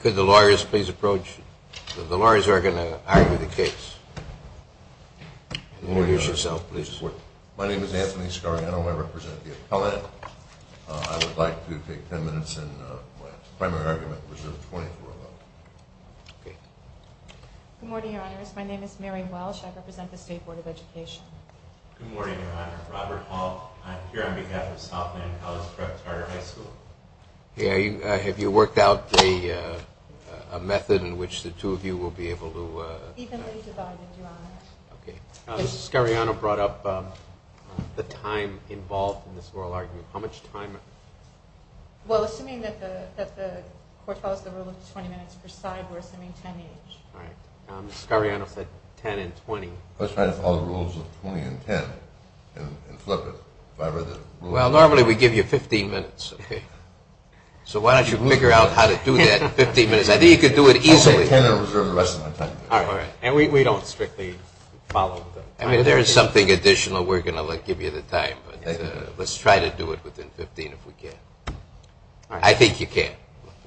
Could the lawyers please approach, the lawyers are going to argue the case. Introduce yourself please. My name is Anthony Scariano, I represent the appellate. I would like to take ten minutes in my primary argument, which is the twentieth oral argument. Good morning your honors, my name is Mary Welsh, I represent the State Board of Education. Good morning your honor, Robert Hall, I'm here on behalf of Southland College Prep Carter High School. Yeah, have you worked out a method in which the two of you will be able to... Evenly divided your honors. Ms. Scariano brought up the time involved in this oral argument, how much time? Well, assuming that the court follows the rule of twenty minutes per side, we're assuming ten minutes. Alright, Ms. Scariano said ten and twenty. I was trying to follow the rules of twenty and ten, and flip it. Well, normally we give you fifteen minutes, so why don't you figure out how to do that in fifteen minutes. I think you could do it easily. I'll take ten and reserve the rest of my time. Alright, alright. And we don't strictly follow the... If there is something additional, we're going to give you the time. Let's try to do it within fifteen if we can. I think you can.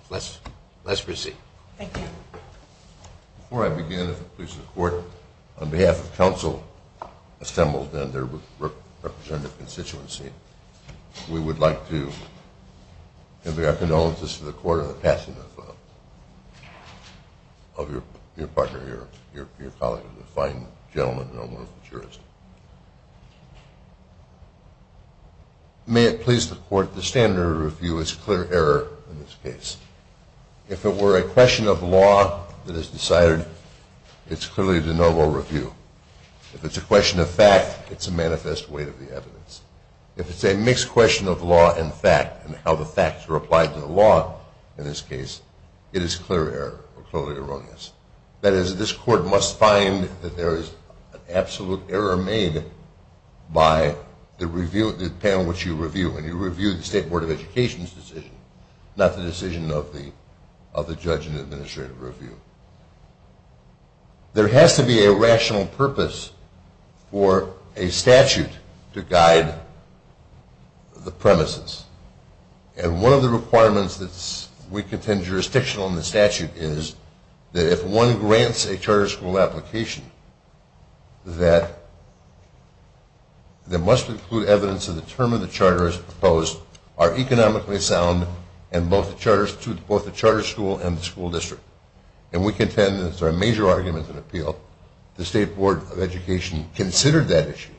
Let's proceed. Thank you. Before I begin, if it pleases the court, on behalf of council assembled and their representative constituency, we would like to give our condolences to the court on the passing of your partner, your colleague. He's a fine gentleman, and I'm one of the jurists. May it please the court, the standard of review is clear error in this case. If it were a question of law that is decided, it's clearly de novo review. If it's a question of fact, it's a manifest weight of the evidence. If it's a mixed question of law and fact, and how the facts are applied to the law in this case, it is clear error, or clearly erroneous. That is, this court must find that there is an absolute error made by the panel which you review, and you review the State Board of Education's decision, not the decision of the judge and administrative review. There has to be a rational purpose for a statute to guide the premises. And one of the requirements that we contend jurisdictional in the statute is that if one grants a charter school application, that there must include evidence to determine the charters proposed are economically sound and both the charter school and the school district. And we contend, and it's our major argument and appeal, the State Board of Education considered that issue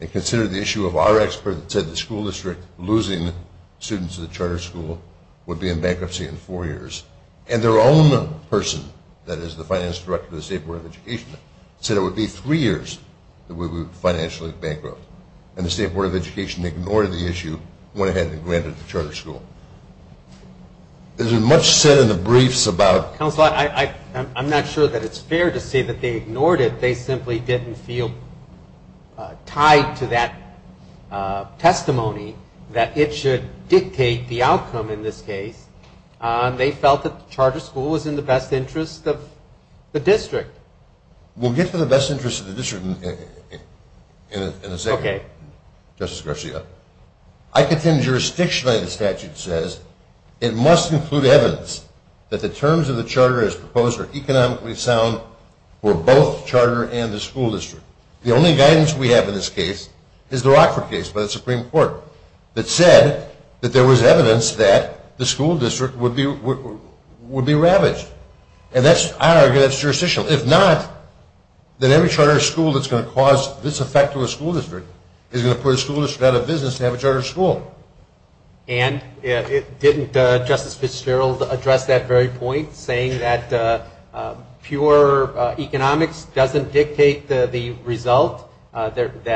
and considered the issue of our expert that said the school district losing students to the charter school would be in bankruptcy in four years. And their own person, that is the finance director of the State Board of Education, said it would be three years that we would be financially bankrupt. And the State Board of Education ignored the issue, went ahead and granted the charter school. There's much said in the briefs about... Counsel, I'm not sure that it's fair to say that they ignored it. They simply didn't feel tied to that testimony that it should dictate the outcome in this case. They felt that the charter school was in the best interest of the district. We'll get to the best interest of the district in a second, Justice Garcia. I contend jurisdictionally the statute says it must include evidence that the terms of the charter as proposed are economically sound for both the charter and the school district. The only guidance we have in this case is the Rockford case by the Supreme Court that said that there was evidence that the school district would be ravaged. And that's, I argue, that's jurisdictional. If not, then every charter school that's going to cause this effect to a school district is going to put a school district out of business to have a charter school. And didn't Justice Fitzgerald address that very point, saying that pure economics doesn't dictate the result, that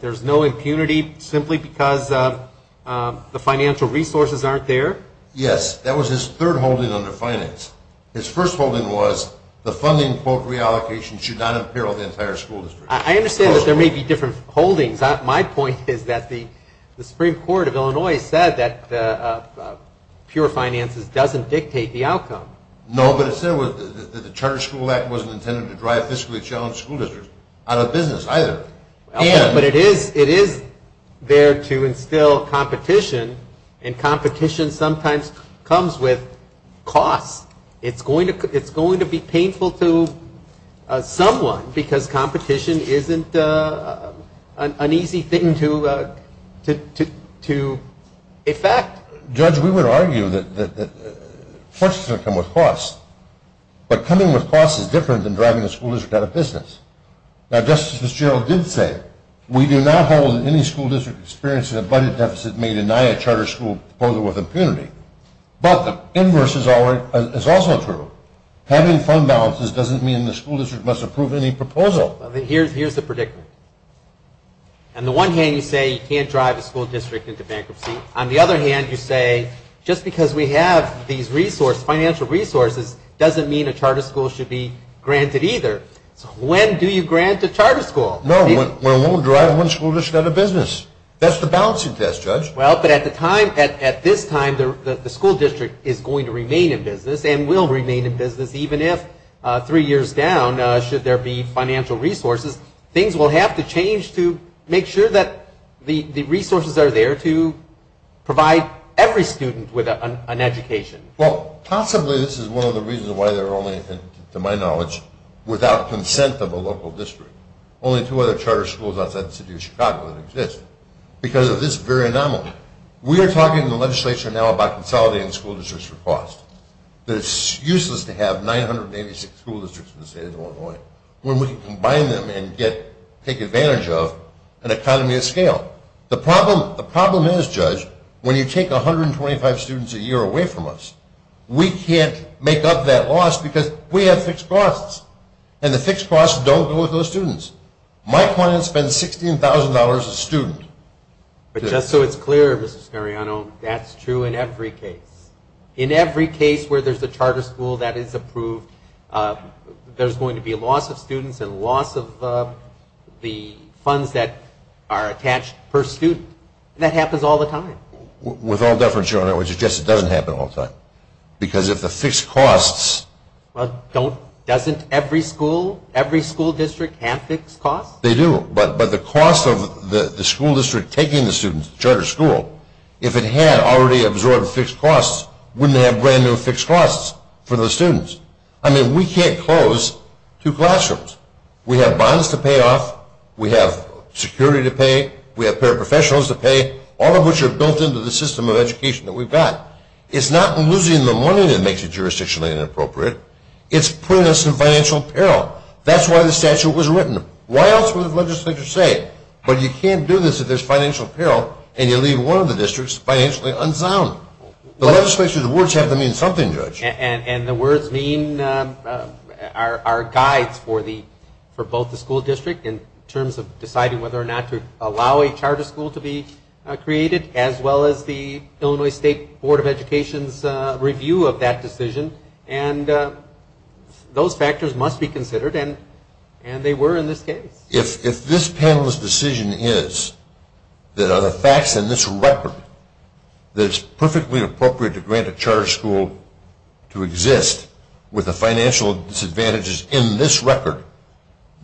there's no impunity simply because the financial resources aren't there? Yes, that was his third holding under finance. His first holding was the funding, quote, reallocation should not imperil the entire school district. I understand that there may be different holdings. My point is that the Supreme Court of Illinois said that pure finances doesn't dictate the outcome. No, but it said that the Charter School Act wasn't intended to drive fiscally challenged school districts out of business either. But it is there to instill competition, and competition sometimes comes with costs. It's going to be painful to someone because competition isn't an easy thing to effect. Judge, we would argue that forces are going to come with costs, but coming with costs is different than driving a school district out of business. Now, Justice Fitzgerald did say, we do not hold that any school district experiencing a budget deficit may deny a charter school proposal with impunity. But the inverse is also true. Having fund balances doesn't mean the school district must approve any proposal. Here's the predicament. On the one hand, you say you can't drive a school district into bankruptcy. On the other hand, you say just because we have these financial resources doesn't mean a charter school should be granted either. So when do you grant a charter school? No, we won't drive one school district out of business. That's the balancing test, Judge. Well, but at this time, the school district is going to remain in business, and will remain in business even if, three years down, should there be financial resources, things will have to change to make sure that the resources are there to provide every student with an education. Well, possibly this is one of the reasons why there are only, to my knowledge, without consent of a local district, only two other charter schools outside the city of Chicago that exist. Because of this very anomaly. We are talking in the legislature now about consolidating school districts for cost. It's useless to have 986 school districts in the state of Illinois when we can combine them and take advantage of an economy of scale. The problem is, Judge, when you take 125 students a year away from us, we can't make up that loss because we have fixed costs. And the fixed costs don't go with those students. My client spends $16,000 a student. But just so it's clear, Mr. Scariano, that's true in every case. In every case where there's a charter school that is approved, there's going to be a loss of students and loss of the funds that are attached per student. And that happens all the time. With all deference, Your Honor, I would suggest it doesn't happen all the time. Because if the fixed costs... Doesn't every school, every school district have fixed costs? They do. But the cost of the school district taking the students to the charter school, if it had already absorbed fixed costs, wouldn't it have brand new fixed costs for those students? I mean, we can't close two classrooms. We have bonds to pay off. We have security to pay. We have paraprofessionals to pay. All of which are built into the system of education that we've got. It's not losing the money that makes it jurisdictionally inappropriate. It's putting us in financial peril. That's why the statute was written. Why else would the legislature say, but you can't do this if there's financial peril and you leave one of the districts financially unsound. The legislature's words have to mean something, Judge. And the words mean our guides for both the school district in terms of deciding whether or not to allow a charter school to be created as well as the Illinois State Board of Education's review of that decision. And those factors must be considered, and they were in this case. If this panel's decision is that of the facts in this record, that it's perfectly appropriate to grant a charter school to exist with the financial disadvantages in this record,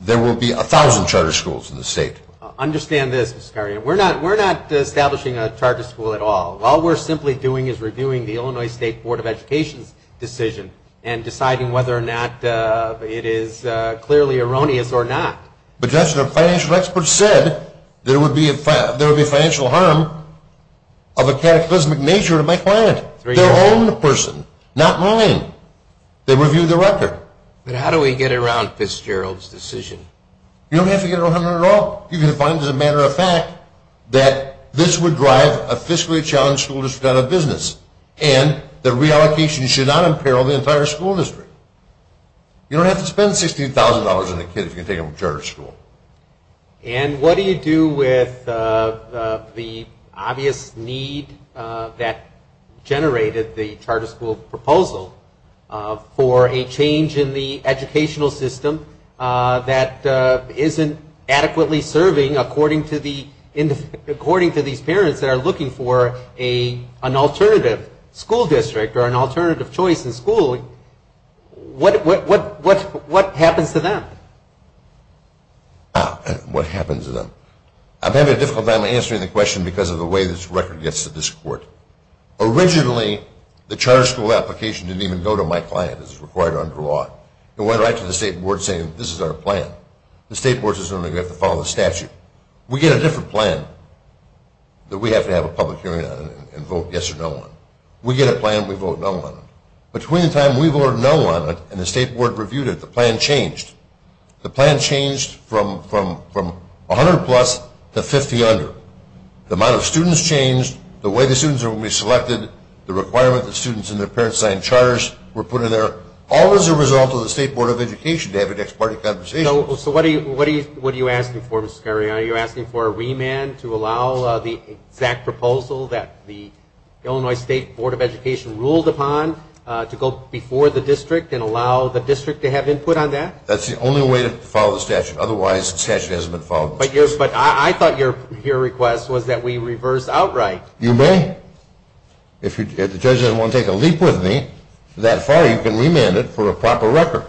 there will be a thousand charter schools in the state. Understand this, Mr. Scarlino. We're not establishing a charter school at all. All we're simply doing is reviewing the Illinois State Board of Education's decision and deciding whether or not it is clearly erroneous or not. But, Judge, the financial experts said there would be financial harm of a cataclysmic nature to my client, their own person, not mine. They reviewed the record. But how do we get around Fitzgerald's decision? You don't have to get around it at all. You can find as a matter of fact that this would drive a fiscally challenged school district out of business and that reallocation should not imperil the entire school district. You don't have to spend $16,000 on a kid if you're going to take him to charter school. And what do you do with the obvious need that generated the charter school proposal for a change in the educational system that isn't adequately serving, according to these parents that are looking for an alternative school district or an alternative choice in schooling? What happens to them? What happens to them? I'm having a difficult time answering the question because of the way this record gets to this court. Originally, the charter school application didn't even go to my client as required under law. It went right to the state board saying this is our plan. The state board says we're going to have to follow the statute. We get a different plan that we have to have a public hearing on and vote yes or no on. We get a plan, we vote no on it. Between the time we voted no on it and the state board reviewed it, the plan changed. The plan changed from 100 plus to 50 under. The amount of students changed. The way the students are going to be selected. The requirement that students and their parents sign charters were put in there. All as a result of the state board of education to have a next party conversation. So what are you asking for, Mr. Scariano? Are you asking for a remand to allow the exact proposal that the Illinois State Board of Education ruled upon to go before the district and allow the district to have input on that? That's the only way to follow the statute. Otherwise, the statute hasn't been followed. But I thought your request was that we reverse outright. You may. If the judge doesn't want to take a leap with me that far, you can remand it for a proper record.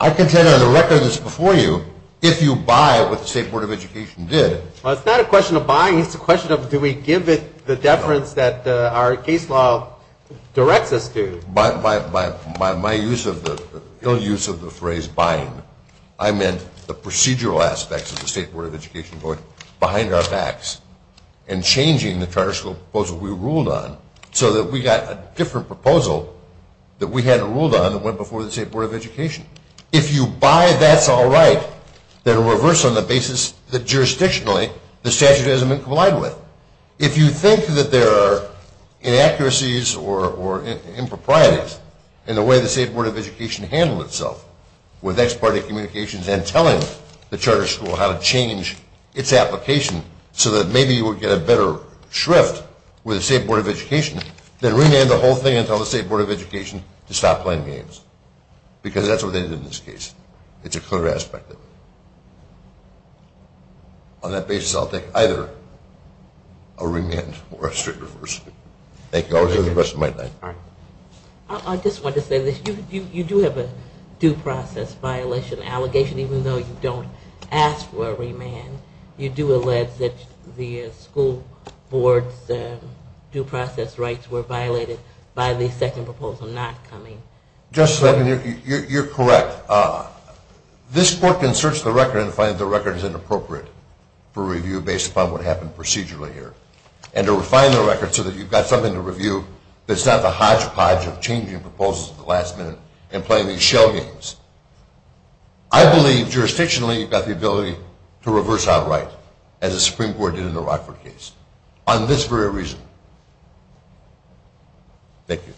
I contend on the record that's before you, if you buy what the state board of education did. Well, it's not a question of buying. It's a question of do we give it the deference that our case law directs us to. By my ill use of the phrase buying, I meant the procedural aspects of the state board of education going behind our backs and changing the charter school proposal we ruled on so that we got a different proposal that we hadn't ruled on that went before the state board of education. If you buy, that's all right. Then reverse on the basis that jurisdictionally the statute hasn't been complied with. If you think that there are inaccuracies or improprieties in the way the state board of education handled itself with ex parte communications and telling the charter school how to change its application so that maybe you would get a better shrift with the state board of education, then remand the whole thing and tell the state board of education to stop playing games because that's what they did in this case. It's a clear aspect of it. On that basis, I'll take either a remand or a strict reverse. Thank you. I'll reserve the rest of my time. I just wanted to say this. You do have a due process violation allegation even though you don't ask for a remand. You do allege that the school board's due process rights were violated by the second proposal not coming. You're correct. This court can search the record and find that the record is inappropriate for review based upon what happened procedurally here and to refine the record so that you've got something to review that's not the hodgepodge of changing proposals at the last minute and playing these shell games. I believe jurisdictionally you've got the ability to reverse outright as the Supreme Court did in the Rockford case on this very reason. Thank you.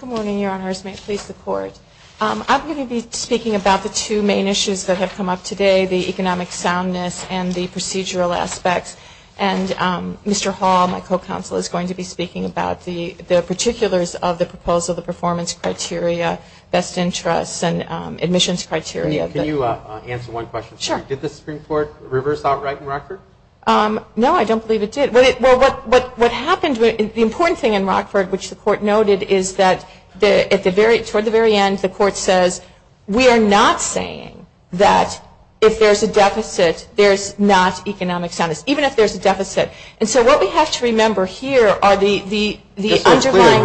Good morning, Your Honors. May it please the Court. I'm going to be speaking about the two main issues that have come up today, the economic soundness and the procedural aspects. Mr. Hall, my co-counsel, is going to be speaking about the particulars of the proposal, the performance criteria, best interests, and admissions criteria. Can you answer one question? Sure. Did the Supreme Court reverse outright in Rockford? No, I don't believe it did. What happened, the important thing in Rockford, which the Court noted, is that toward the very end the Court says, we are not saying that if there's a deficit there's not economic soundness, even if there's a deficit. And so what we have to remember here are the underlying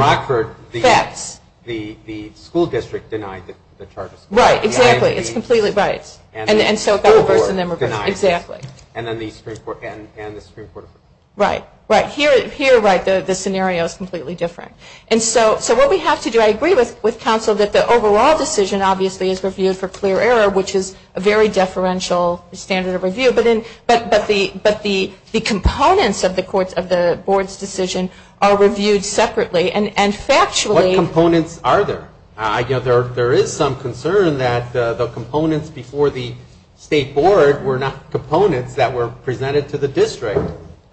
facts. The school district denied the charges. Right, exactly. It's completely right. And so it got reversed and then we're denied. Exactly. And then the Supreme Court. Right, right. Here, right, the scenario is completely different. And so what we have to do, I agree with counsel, that the overall decision obviously is reviewed for clear error, which is a very deferential standard of review. But the components of the Board's decision are reviewed separately and factually. What components are there? There is some concern that the components before the State Board were not components that were presented to the district.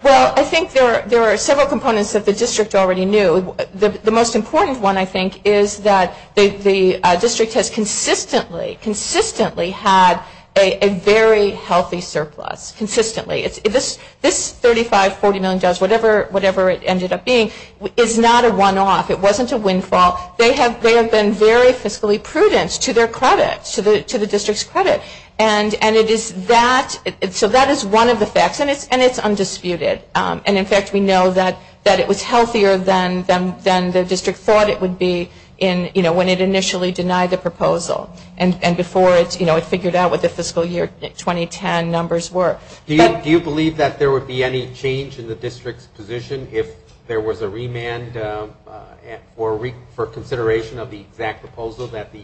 Well, I think there are several components that the district already knew. The most important one, I think, is that the district has consistently, consistently had a very healthy surplus, consistently. This $35 million, $40 million, whatever it ended up being, is not a one-off. It wasn't a windfall. They have been very fiscally prudent to their credit, to the district's credit. And it is that, so that is one of the facts, and it's undisputed. And, in fact, we know that it was healthier than the district thought it would be when it initially denied the proposal and before it figured out what the fiscal year 2010 numbers were. Do you believe that there would be any change in the district's position if there was a remand for consideration of the exact proposal that the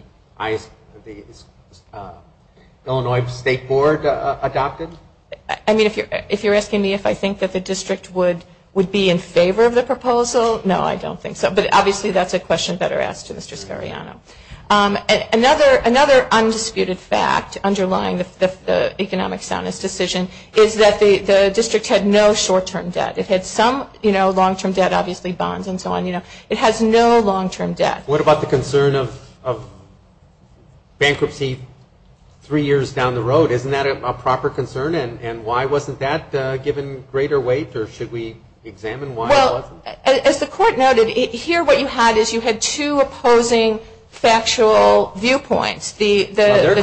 Illinois State Board adopted? I mean, if you're asking me if I think that the district would be in favor of the proposal, no, I don't think so. But, obviously, that's a question better asked to Mr. Scariano. Another undisputed fact underlying the economic soundness decision is that the district had no short-term debt. It had some long-term debt, obviously bonds and so on. It has no long-term debt. What about the concern of bankruptcy three years down the road? Isn't that a proper concern? And why wasn't that given greater weight, or should we examine why it wasn't? Well, as the court noted, here what you had is you had two opposing factual viewpoints. They're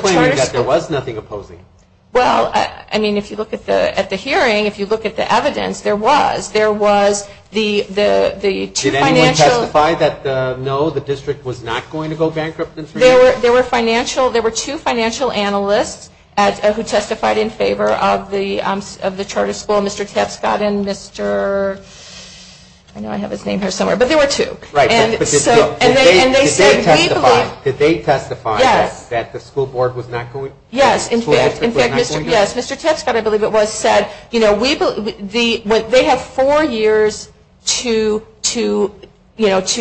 claiming that there was nothing opposing. Well, I mean, if you look at the hearing, if you look at the evidence, there was. There was the two financial Did anyone testify that, no, the district was not going to go bankrupt in three years? There were two financial analysts who testified in favor of the charter school, Mr. Tepscott and Mr. I know I have his name here somewhere, but there were two. Right, but did they testify that the school board was not going to? Yes, in fact, Mr. Tepscott, I believe it was, said, they have four years to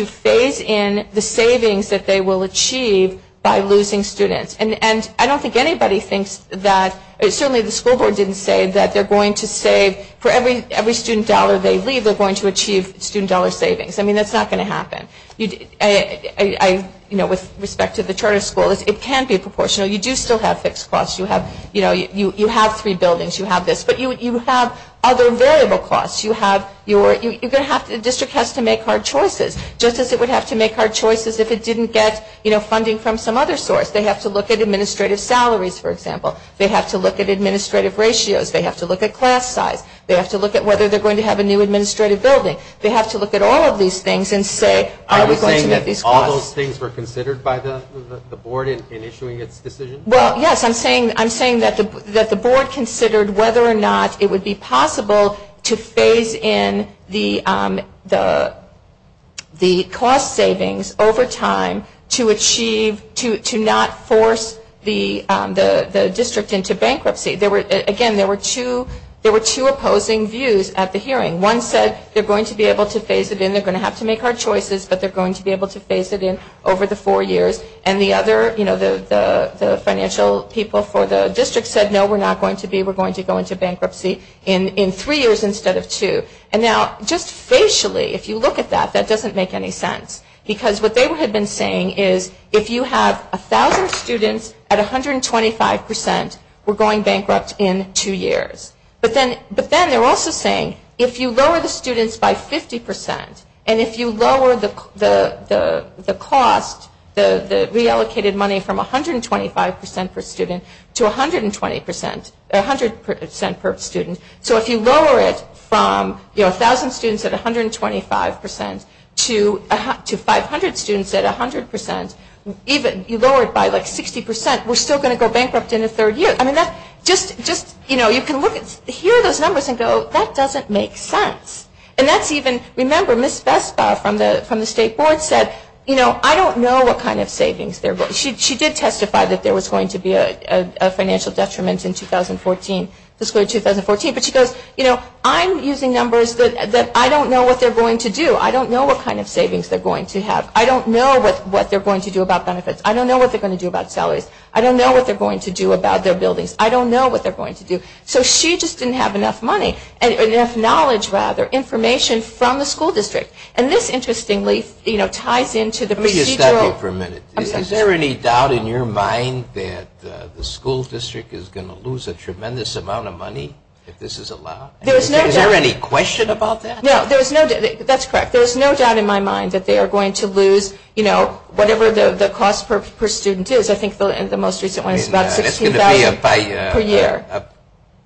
phase in the savings that they will achieve by losing students. And I don't think anybody thinks that, certainly the school board didn't say that they're going to save, for every student dollar they leave, they're going to achieve student dollar savings. I mean, that's not going to happen. With respect to the charter school, it can be proportional. You do still have fixed costs. You have three buildings. You have this, but you have other variable costs. You're going to have to, the district has to make hard choices, just as it would have to make hard choices if it didn't get funding from some other source. They have to look at administrative salaries, for example. They have to look at administrative ratios. They have to look at class size. They have to look at whether they're going to have a new administrative building. They have to look at all of these things and say, are we going to get these costs? Are you saying that all those things were considered by the board in issuing its decision? Well, yes. I'm saying that the board considered whether or not it would be possible to phase in the cost savings over time to achieve, to not force the district into bankruptcy. Again, there were two opposing views at the hearing. One said they're going to be able to phase it in. They're going to have to make hard choices, but they're going to be able to phase it in over the four years. And the other, you know, the financial people for the district said, no, we're not going to be. We're going to go into bankruptcy in three years instead of two. And now, just facially, if you look at that, that doesn't make any sense, because what they had been saying is if you have 1,000 students at 125 percent, we're going bankrupt in two years. But then they're also saying if you lower the students by 50 percent, and if you lower the cost, the reallocated money from 125 percent per student to 120 percent, 100 percent per student, so if you lower it from 1,000 students at 125 percent to 500 students at 100 percent, even lower it by like 60 percent, we're still going to go bankrupt in a third year. I mean, just, you know, you can look at, hear those numbers and go, that doesn't make sense. And that's even, remember, Ms. Vestbar from the State Board said, you know, I don't know what kind of savings, she did testify that there was going to be a financial detriment in 2014, fiscal year 2014, but she goes, you know, I'm using numbers that I don't know what they're going to do. I don't know what kind of savings they're going to have. I don't know what they're going to do about benefits. I don't know what they're going to do about salaries. I don't know what they're going to do about their buildings. I don't know what they're going to do. So she just didn't have enough money, enough knowledge, rather, information from the school district. And this, interestingly, you know, ties into the procedural. Let me just stop you for a minute. Is there any doubt in your mind that the school district is going to lose a tremendous amount of money if this is allowed? There is no doubt. Is there any question about that? No, there is no doubt. That's correct. There is no doubt in my mind that they are going to lose, you know, whatever the cost per student is. I think the most recent one is about $16,000 per year.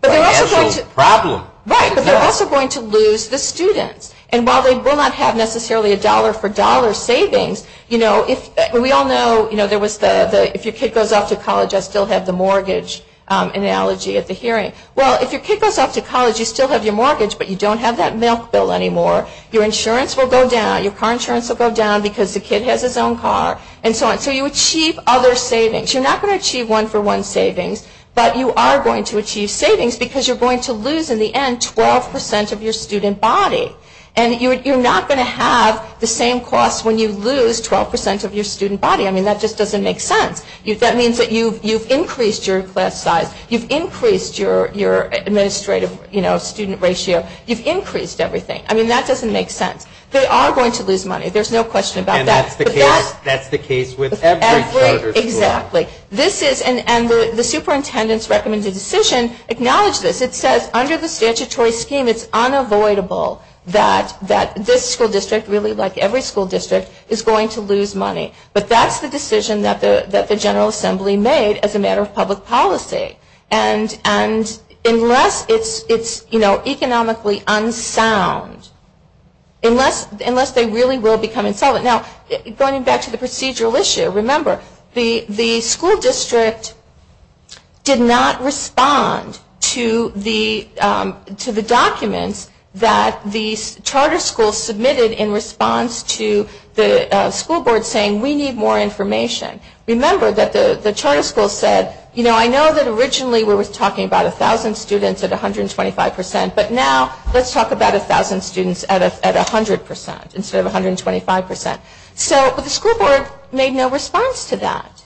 Financial problem. Right. But they're also going to lose the students. And while they will not have necessarily a dollar-for-dollar savings, you know, we all know, you know, if your kid goes off to college, I still have the mortgage analogy at the hearing. Well, if your kid goes off to college, you still have your mortgage, but you don't have that milk bill anymore. Your insurance will go down. Your car insurance will go down because the kid has his own car and so on. So you achieve other savings. You're not going to achieve one-for-one savings, but you are going to achieve savings because you're going to lose, in the end, 12% of your student body. And you're not going to have the same cost when you lose 12% of your student body. I mean, that just doesn't make sense. That means that you've increased your class size. You've increased your administrative, you know, student ratio. You've increased everything. I mean, that doesn't make sense. They are going to lose money. There's no question about that. And that's the case with every charter school. Exactly. And the superintendent's recommended decision acknowledges this. It says under the statutory scheme, it's unavoidable that this school district, really like every school district, is going to lose money. But that's the decision that the General Assembly made as a matter of public policy. And unless it's, you know, economically unsound, unless they really will become insolvent. Now, going back to the procedural issue, remember, the school district did not respond to the documents that the charter schools submitted in response to the school board saying, we need more information. Remember that the charter schools said, you know, I know that originally we were talking about 1,000 students at 125%, but now let's talk about 1,000 students at 100% instead of 125%. So the school board made no response to that.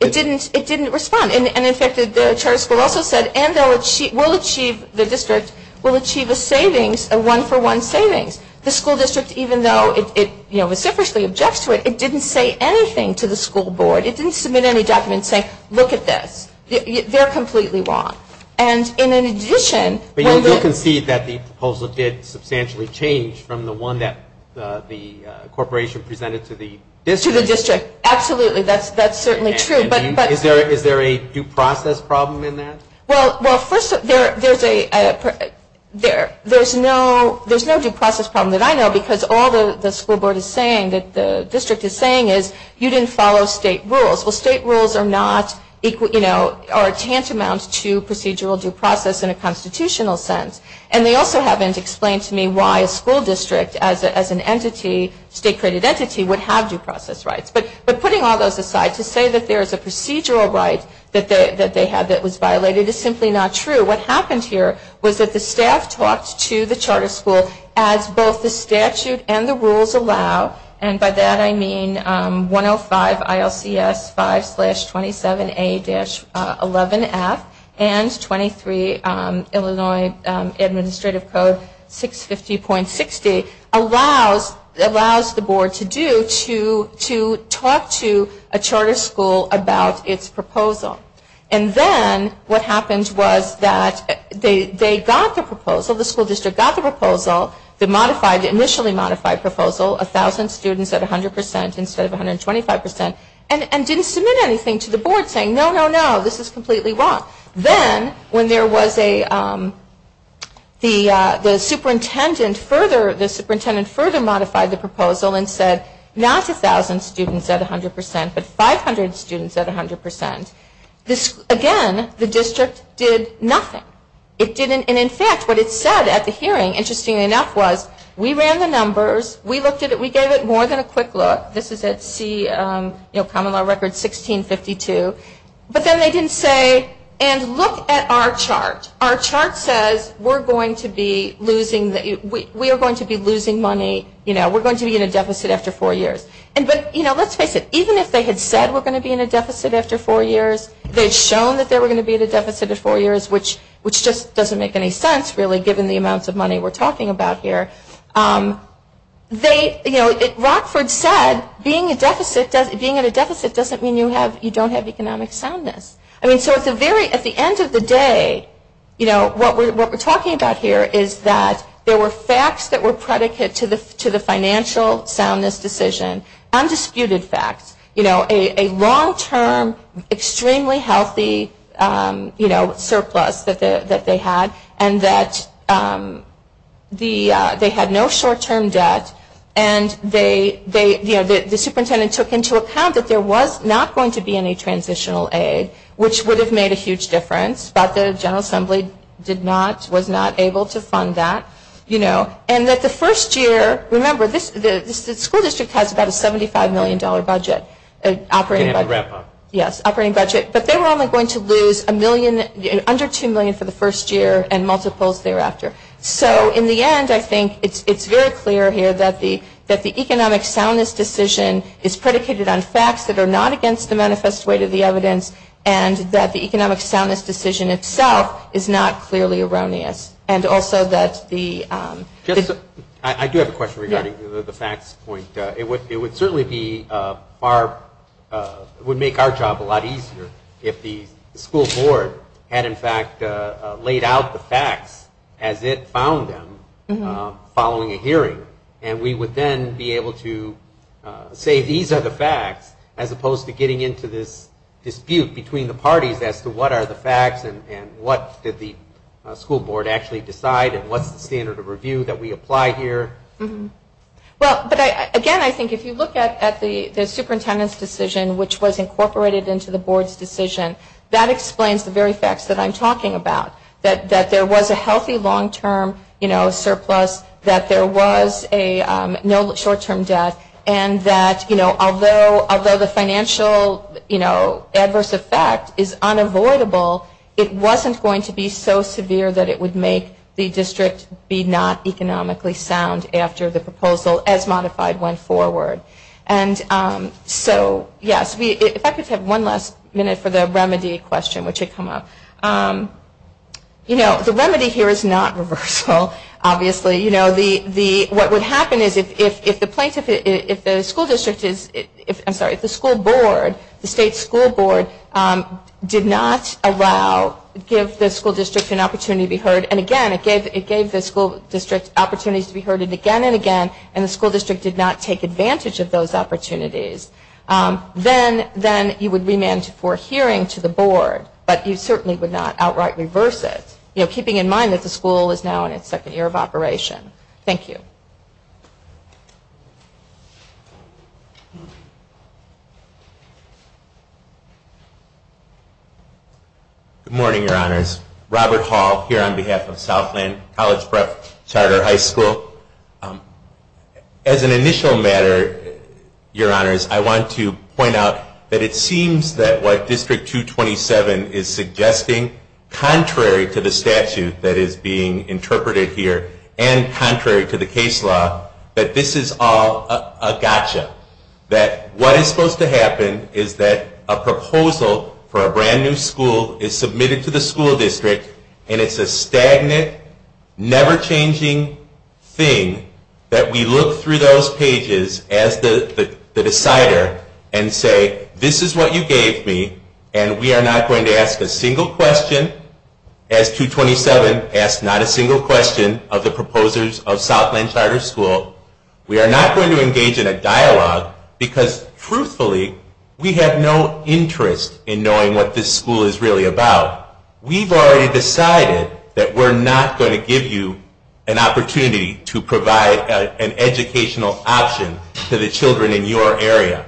It didn't respond. And, in fact, the charter school also said we'll achieve, the district, we'll achieve a savings, a one-for-one savings. The school district, even though it, you know, vociferously objects to it, it didn't say anything to the school board. It didn't submit any documents saying, look at this. They're completely wrong. And, in addition. But you'll concede that the proposal did substantially change from the one that the corporation presented to the district. To the district. Absolutely. That's certainly true. Is there a due process problem in that? Well, first, there's no due process problem that I know, because all the school board is saying, that the district is saying, is you didn't follow state rules. Well, state rules are not, you know, are tantamount to procedural due process in a constitutional sense. And they also haven't explained to me why a school district as an entity, state-created entity, would have due process rights. But putting all those aside to say that there is a procedural right that they had that was violated is simply not true. What happened here was that the staff talked to the charter school as both the statute and the rules allow. And by that I mean 105 ILCS 5-27A-11F and 23 Illinois Administrative Code 650.60 allows the board to do to talk to a charter school about its proposal. And then what happened was that they got the proposal, the school district got the proposal, the modified, initially modified proposal, 1,000 students at 100 percent instead of 125 percent, and didn't submit anything to the board saying, no, no, no, this is completely wrong. Then when there was a, the superintendent further, the superintendent further modified the proposal and said, not 1,000 students at 100 percent, but 500 students at 100 percent. Again, the district did nothing. It didn't, and in fact, what it said at the hearing, interestingly enough, was we ran the numbers, we looked at it, we gave it more than a quick look. This is at C, you know, common law record 1652. But then they didn't say, and look at our chart. Our chart says we're going to be losing, we are going to be losing money, you know, we're going to be in a deficit after four years. But, you know, let's face it, even if they had said we're going to be in a deficit after four years, they had shown that they were going to be in a deficit after four years, which just doesn't make any sense, really, given the amounts of money we're talking about here. They, you know, Rockford said being in a deficit doesn't mean you have, you don't have economic soundness. I mean, so at the end of the day, you know, what we're talking about here is that there were facts that were predicate to the financial soundness decision, undisputed facts, you know, a long-term, extremely healthy, you know, surplus that they had, and that they had no short-term debt, and they, you know, the superintendent took into account that there was not going to be any transitional aid, which would have made a huge difference, but the General Assembly did not, was not able to fund that, you know. And that the first year, remember, the school district has about a $75 million budget operating budget. Yes, operating budget. But they were only going to lose a million, under $2 million for the first year and multiples thereafter. So in the end, I think it's very clear here that the economic soundness decision is predicated on facts that are not against the manifest weight of the evidence, and that the economic soundness decision itself is not clearly erroneous. And also that the... I do have a question regarding the facts point. It would certainly be far, would make our job a lot easier if the school board had, in fact, laid out the facts as it found them following a hearing, and we would then be able to say, these are the facts, as opposed to getting into this dispute between the parties as to what are the facts and what did the school board actually decide and what's the standard of review that we apply here? Well, again, I think if you look at the superintendent's decision, which was incorporated into the board's decision, that explains the very facts that I'm talking about, that there was a healthy long-term surplus, that there was no short-term debt, and that, you know, although the financial adverse effect is unavoidable, it wasn't going to be so severe that it would make the district be not economically sound after the proposal, as modified went forward. And so, yes, if I could have one last minute for the remedy question, which had come up. You know, the remedy here is not reversal, obviously. You know, what would happen is if the plaintiff, if the school district is, I'm sorry, if the school board, the state school board did not allow, give the school district an opportunity to be heard, and again, it gave the school district opportunities to be heard again and again, and the school district did not take advantage of those opportunities. Then you would remand for hearing to the board, but you certainly would not outright reverse it, you know, keeping in mind that the school is now in its second year of operation. Thank you. Good morning, Your Honors. Robert Hall here on behalf of Southland College Prep Charter High School. As an initial matter, Your Honors, I want to point out that it seems that what District 227 is suggesting, contrary to the statute that is being interpreted here, and contrary to the case law, that this is all a gotcha. That what is supposed to happen is that a proposal for a brand new school is submitted to the school district, and it's a stagnant, never-changing thing that we look through those pages as the decider and say, this is what you gave me, and we are not going to ask a single question of the proposers of Southland Charter School. We are not going to engage in a dialogue because, truthfully, we have no interest in knowing what this school is really about. We've already decided that we're not going to give you an opportunity to provide an educational option to the children in your area.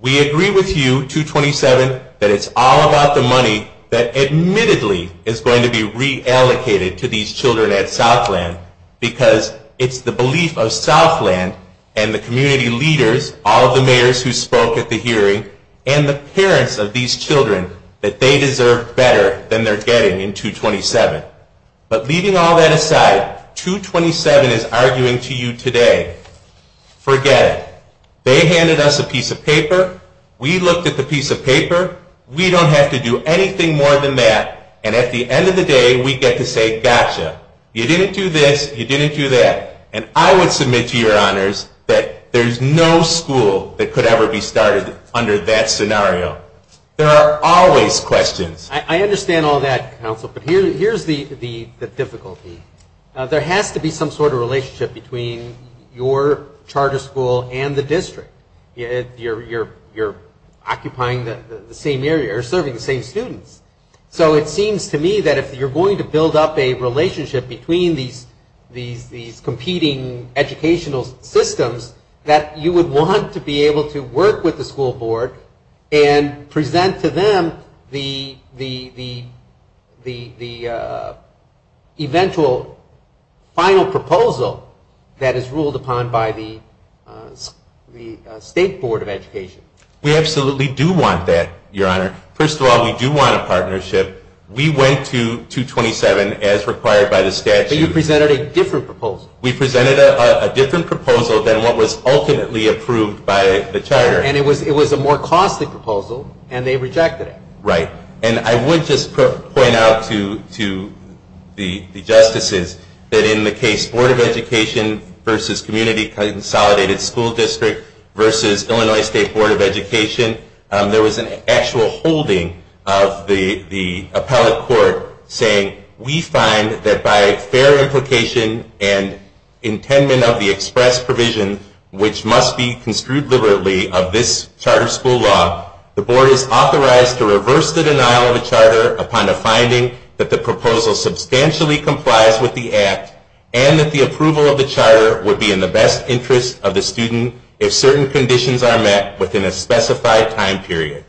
We agree with you, 227, that it's all about the money that admittedly is going to be reallocated to these children at Southland because it's the belief of Southland and the community leaders, all of the mayors who spoke at the hearing, and the parents of these children that they deserve better than they're getting in 227. But leaving all that aside, 227 is arguing to you today, forget it. They handed us a piece of paper. We looked at the piece of paper. We don't have to do anything more than that. And at the end of the day, we get to say, gotcha. You didn't do this. You didn't do that. And I would submit to your honors that there's no school that could ever be started under that scenario. There are always questions. I understand all that, counsel, but here's the difficulty. There has to be some sort of relationship between your charter school and the district. You're occupying the same area or serving the same students. So it seems to me that if you're going to build up a relationship between these competing educational systems, that you would want to be able to work with the school board and present to them the eventual final proposal that is ruled upon by the state board of education. We absolutely do want that, your honor. First of all, we do want a partnership. We went to 227 as required by the statute. But you presented a different proposal. We presented a different proposal than what was ultimately approved by the charter. And it was a more costly proposal, and they rejected it. Right. And I would just point out to the justices that in the case board of education versus community consolidated school district versus Illinois State Board of Education, there was an actual holding of the appellate court saying, we find that by fair implication and intendment of the express provision, which must be construed liberally of this charter school law, the board is authorized to reverse the denial of a charter upon the finding that the proposal substantially complies with the act and that the approval of the charter would be in the best interest of the student if certain conditions are met within a specified time period.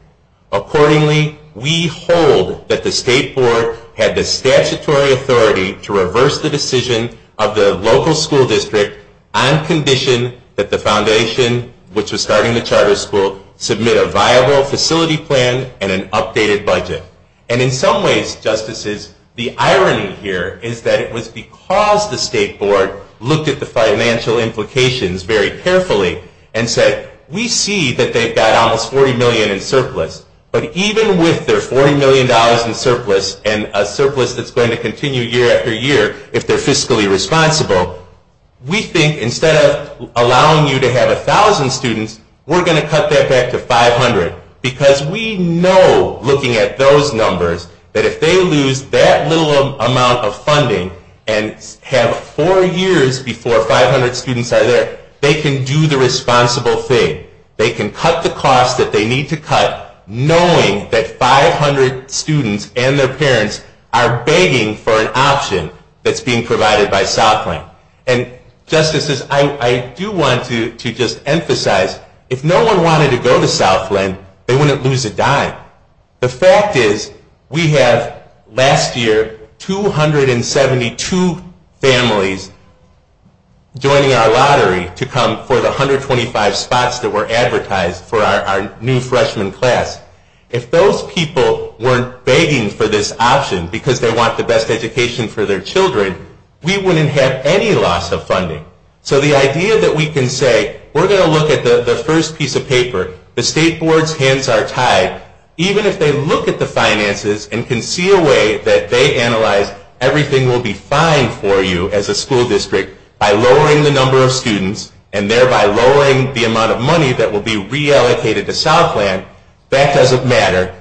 Accordingly, we hold that the state board had the statutory authority to reverse the decision of the local school district on condition that the board submit a viable facility plan and an updated budget. And in some ways, justices, the irony here is that it was because the state board looked at the financial implications very carefully and said, we see that they've got almost $40 million in surplus. But even with their $40 million in surplus and a surplus that's going to continue year after year if they're fiscally responsible, we think instead of allowing you to have 1,000 students, we're going to cut that back to 500. Because we know, looking at those numbers, that if they lose that little amount of funding and have four years before 500 students are there, they can do the responsible thing. They can cut the cost that they need to cut, knowing that 500 students and their parents are begging for an option that's being provided by Southland. And justices, I do want to just emphasize, if no one wanted to go to Southland, they wouldn't lose a dime. The fact is, we have last year 272 families joining our lottery to come for the 125 spots that were advertised for our new freshman class. If those people weren't begging for this option because they want the best education for their children, we wouldn't have any loss of funding. So the idea that we can say, we're going to look at the first piece of paper, the state board's hands are tied, even if they look at the finances and can see a way that they analyze everything will be fine for you as a school district by lowering the number of students and thereby lowering the amount of money that will be reallocated to Southland, that doesn't matter.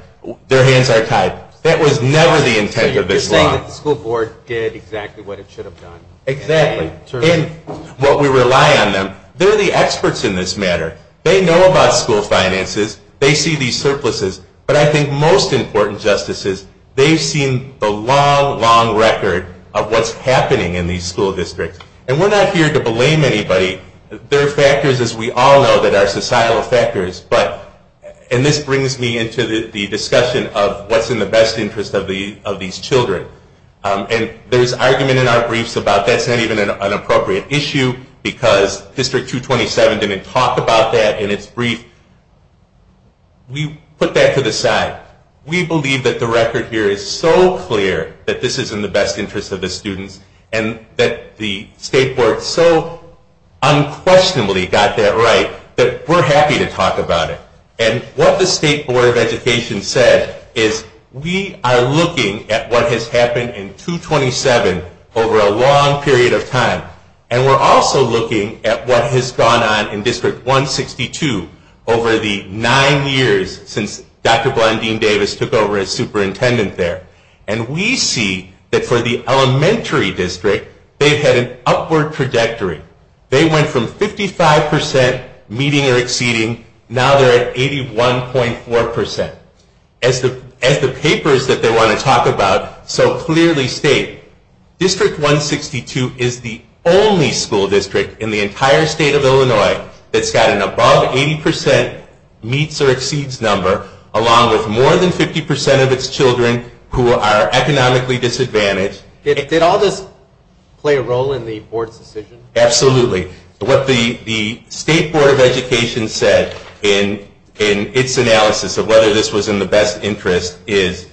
Their hands are tied. That was never the intent of this law. So you're saying that the school board did exactly what it should have done? Exactly. In what we rely on them. They're the experts in this matter. They know about school finances. They see these surpluses. But I think most important, justices, they've seen the long, long record of what's happening in these school districts. And we're not here to blame anybody. There are factors, as we all know, that are societal factors. And this brings me into the discussion of what's in the best interest of these children. And there's argument in our briefs about that's not even an appropriate issue because District 227 didn't talk about that in its brief. We put that to the side. We believe that the record here is so clear that this is in the best interest of the students and that the state board so unquestionably got that right that we're happy to talk about it. And what the State Board of Education said is we are looking at what has happened in 227 over a long period of time. And we're also looking at what has gone on in District 162 over the nine years since Dr. Blondine Davis took over as superintendent there. And we see that for the elementary district, they've had an upward trajectory. They went from 55% meeting or exceeding. Now they're at 81.4%. As the papers that they want to talk about so clearly state, District 162 is the only school district in the entire state of Illinois that's got an above 80% meets or exceeds number along with more than 50% of its children who are economically disadvantaged. Did all this play a role in the board's decision? Absolutely. What the State Board of Education said in its analysis of whether this was in the best interest is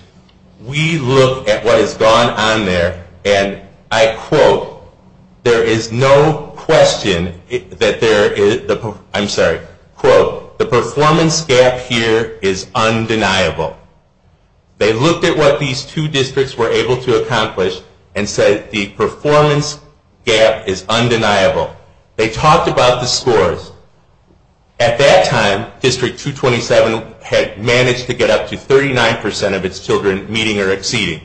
we look at what has gone on there and I quote, there is no question that there is, I'm sorry, quote, the performance gap here is undeniable. They looked at what these two districts were able to accomplish and said the performance gap is undeniable. They talked about the scores. At that time, District 227 had managed to get up to 39% of its children meeting or exceeding.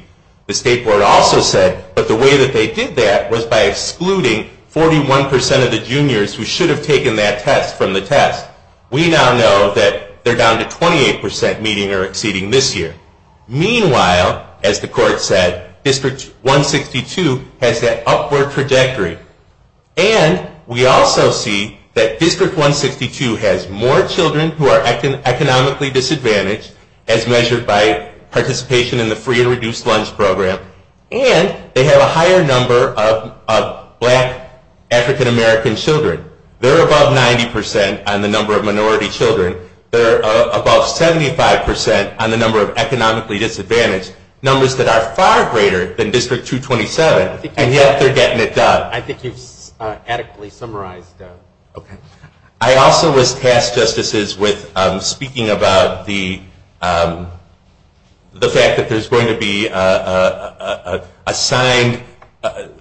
The State Board also said, but the way that they did that was by excluding 41% of the juniors who should have taken that test from the test. We now know that they're down to 28% meeting or exceeding this year. Meanwhile, as the court said, District 162 has that upward trajectory. And we also see that District 162 has more children who are economically disadvantaged as measured by participation in the free and reduced lunch program and they have a higher number of black African-American children. They're above 90% on the number of minority children. They're above 75% on the number of economically disadvantaged, numbers that are far greater than District 227 and yet they're getting it done. I think you've adequately summarized that. Okay. I also was tasked, Justices, with speaking about the fact that there's going to be a signed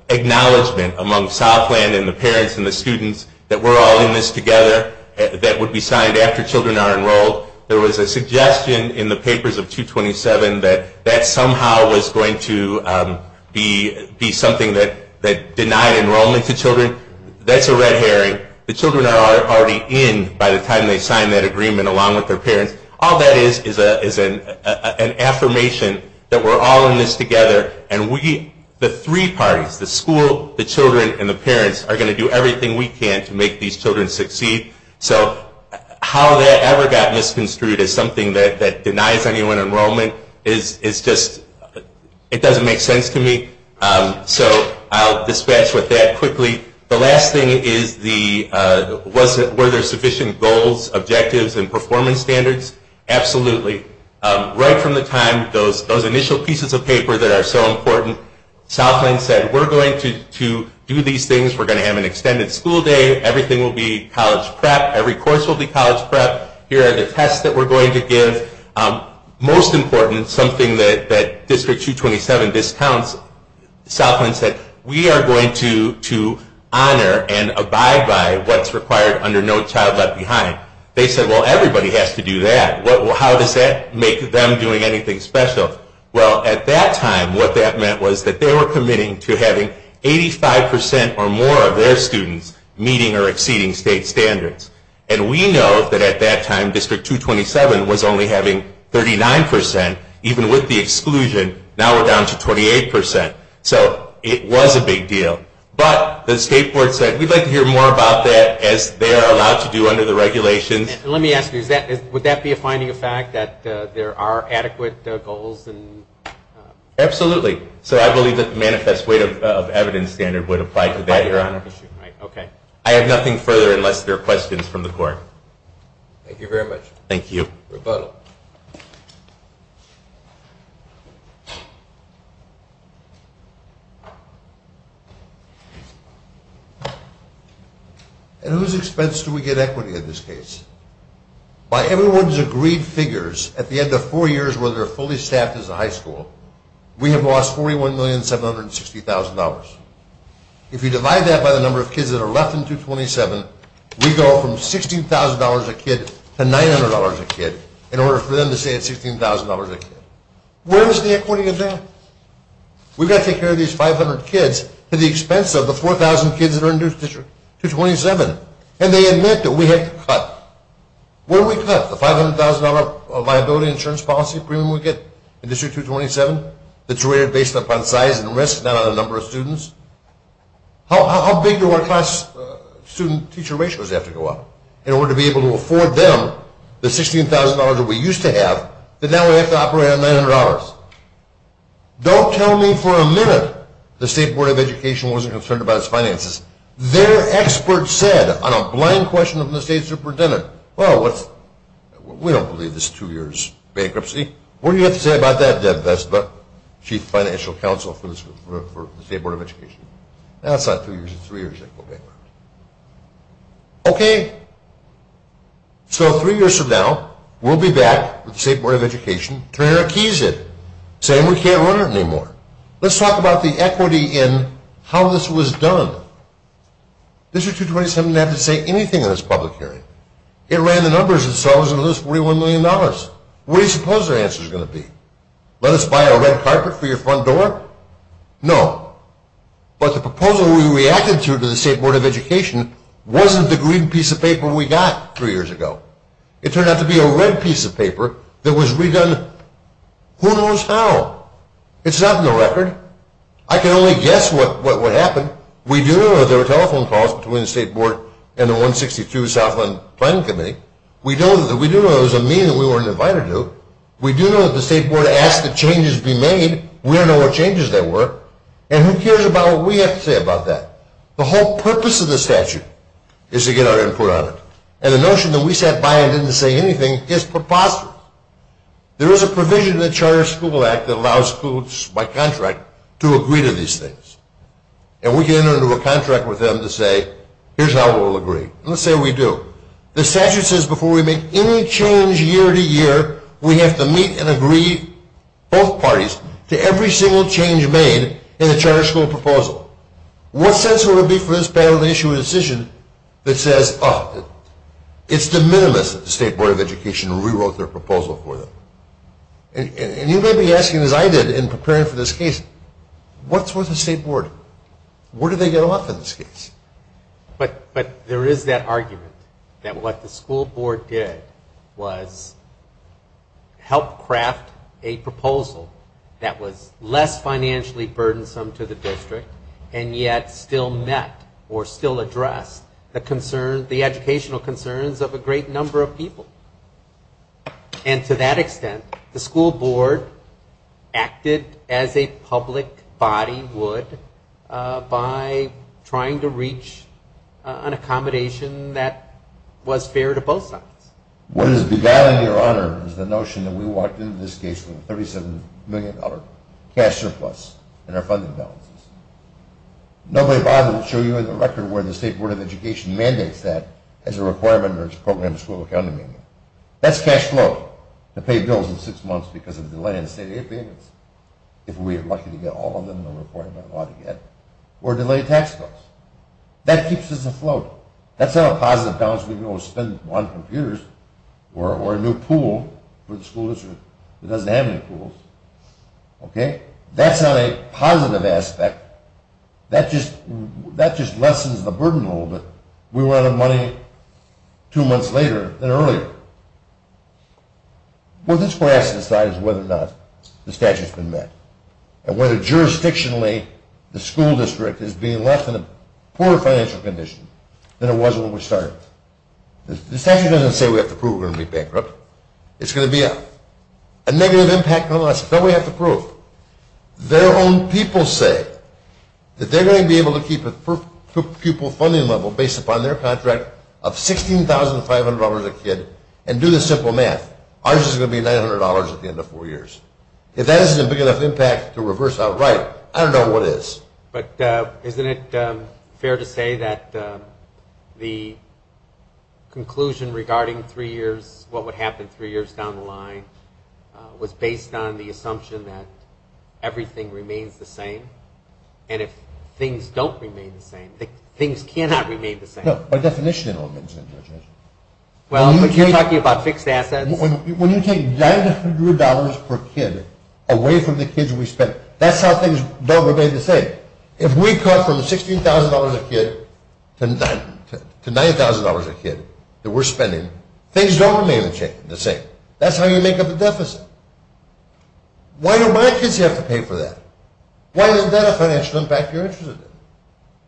acknowledgement among Southland and the parents and the schools that we're all in this together that would be signed after children are enrolled. There was a suggestion in the papers of 227 that that somehow was going to be something that denied enrollment to children. That's a red herring. The children are already in by the time they sign that agreement along with their parents. All that is is an affirmation that we're all in this together and we, the three parties, the school, the children, and the parents are going to do everything we can to make these children succeed. So how that ever got misconstrued as something that denies anyone enrollment is just, it doesn't make sense to me. So I'll dispatch with that quickly. The last thing is, were there sufficient goals, objectives, and performance standards? Absolutely. Right from the time those initial pieces of paper that are so important, Southland said, we're going to do these things. We're going to have an extended school day. Everything will be college prep. Every course will be college prep. Here are the tests that we're going to give. Most important, something that District 227 discounts, Southland said, we are going to honor and abide by what's required under No Child Left Behind. They said, well, everybody has to do that. How does that make them doing anything special? Well, at that time, what that meant was that they were committing to having 85% or more of their students meeting or exceeding state standards. And we know that at that time, District 227 was only having 39%, even with the exclusion. Now we're down to 28%. So it was a big deal. But the State Board said, we'd like to hear more about that, as they are allowed to do under the regulations. Let me ask you, would that be a finding of fact, that there are adequate goals? Absolutely. So I believe that the manifest weight of evidence standard would apply to that, Your Honor. I have nothing further, unless there are questions from the court. Thank you very much. Thank you. Rebuttal. At whose expense do we get equity in this case? By everyone's agreed figures, at the end of four years, whether they're fully staffed as a high school, we have lost $41,760,000. If you divide that by the number of kids that are left in 227, we go from $16,000 a kid to $900 a kid, in order for them to say it's $16,000 a kid. Where is the equity of that? We've got to take care of these 500 kids, at the expense of the 4,000 kids that are in District 227. And they admit that we have to cut. What do we cut? The $500,000 liability insurance policy premium we get in District 227, How big do our class-student-teacher ratios have to go up, in order to be able to afford them the $16,000 that we used to have, that now we have to operate on $900? Don't tell me for a minute the State Board of Education wasn't concerned about its finances. Their experts said, on a blind question from the State Superintendent, well, we don't believe this is two years bankruptcy. What do you have to say about that, Deb Vestma, Chief Financial Counsel for the State Board of Education? That's not two years, it's three years of bankruptcy. Okay. So three years from now, we'll be back with the State Board of Education, turning our keys in, saying we can't run it anymore. Let's talk about the equity in how this was done. District 227 didn't have to say anything in this public hearing. It ran the numbers itself, and it was $41 million. What do you suppose their answer is going to be? Let us buy a red carpet for your front door? No. But the proposal we reacted to, to the State Board of Education, wasn't the green piece of paper we got three years ago. It turned out to be a red piece of paper that was redone who knows how. It's not in the record. I can only guess what would happen. We do know there were telephone calls between the State Board and the 162 Southland Planning Committee. We do know there was a meeting we weren't invited to. We do know that the State Board asked that changes be made. We don't know what changes there were. And who cares about what we have to say about that? The whole purpose of the statute is to get our input on it. And the notion that we sat by and didn't say anything is preposterous. There is a provision in the Charter School Act that allows schools by contract to agree to these things. And we can enter into a contract with them to say, here's how we'll agree. Let's say we do. The statute says before we make any change year to year, we have to meet and agree, both parties, to every single change made in the charter school proposal. What sense would it be for this panel to issue a decision that says, oh, it's de minimis that the State Board of Education rewrote their proposal for them? And you may be asking, as I did in preparing for this case, what's with the State Board? Where do they go up in this case? But there is that argument that what the school board did was help craft a proposal that was less financially burdensome to the district, and yet still met or still addressed the educational concerns of a great number of people. And to that extent, the school board acted as a public body would by trying to reach an accommodation that was fair to both sides. What has begun, Your Honor, is the notion that we walked into this case with a $37 million cash surplus in our funding balances. Nobody bothered to show you in the record where the State Board of Education mandates that as a requirement or as a program of school accountability. That's cash flow to pay bills in six months because of the delay in state aid payments, if we are lucky to get all of them in the report that we ought to get, or delay tax cuts. That keeps us afloat. That's not a positive balance we can go spend on computers or a new pool for the school district that doesn't have any pools. Okay? That's not a positive aspect. That just lessens the burden a little bit. We were out of money two months later than earlier. What this class decides is whether or not the statute has been met and whether jurisdictionally the school district is being left in a poor financial condition than it was when we started. The statute doesn't say we have to prove we're going to be bankrupt. It's going to be a negative impact on us, but we have to prove. Their own people say that they're going to be able to keep a pupil funding level based upon their contract of $16,500 a kid and do the simple math. Ours is going to be $900 at the end of four years. If that isn't a big enough impact to reverse outright, I don't know what is. But isn't it fair to say that the conclusion regarding three years, what would happen three years down the line, was based on the assumption that everything remains the same? And if things don't remain the same, things cannot remain the same. No, by definition it all remains the same. Well, but you're talking about fixed assets. When you take $900 per kid away from the kids we spend, that's how things don't remain the same. If we cut from $16,000 a kid to $9,000 a kid that we're spending, things don't remain the same. That's how you make up a deficit. Why do my kids have to pay for that? Why doesn't that have a financial impact to your interest?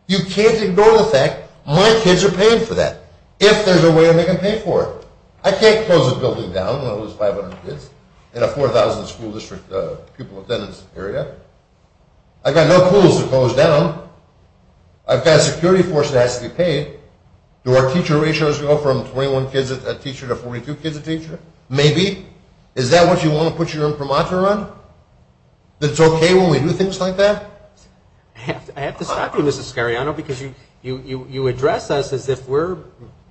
You can't ignore the fact my kids are paying for that if there's a way they can pay for it. I can't close a building down when I lose 500 kids in a 4,000 school district pupil attendance area. I've got no pools to close down. I've got a security force that has to be paid. Do our teacher ratios go from 21 kids a teacher to 42 kids a teacher? Maybe. Is that what you want to put your imprimatur on? That it's okay when we do things like that? I have to stop you, Mr. Scariano, because you address us as if we're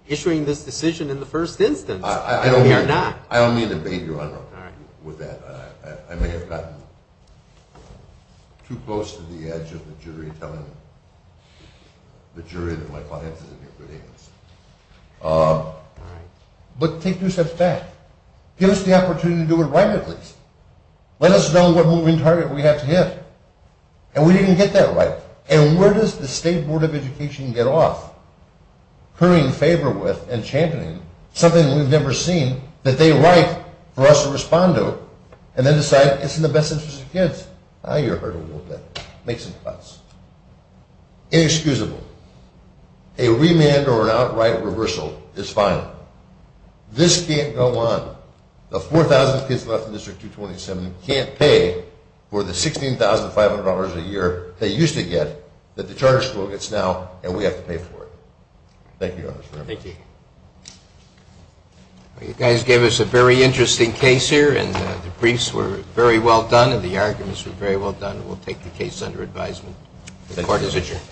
issuing this decision in the first instance. We are not. I don't mean to bait you, Your Honor, with that. I may have gotten too close to the edge of the jury, telling the jury that my client is a neocredit agency. All right. But take two steps back. Give us the opportunity to do it right, at least. Let us know what moving target we have to hit. And we didn't get that right. And where does the State Board of Education get off? Currying favor with and championing something we've never seen, that they write for us to respond to, and then decide it's in the best interest of kids. Now you're hurting a little bit. Make some cuts. Inexcusable. A remand or an outright reversal is fine. This can't go on. The 4,000 kids left in District 227 can't pay for the $16,500 a year they used to get that the charter school gets now, and we have to pay for it. Thank you, Your Honor. Thank you. You guys gave us a very interesting case here, and the briefs were very well done, and the arguments were very well done. We'll take the case under advisement. The court is adjourned.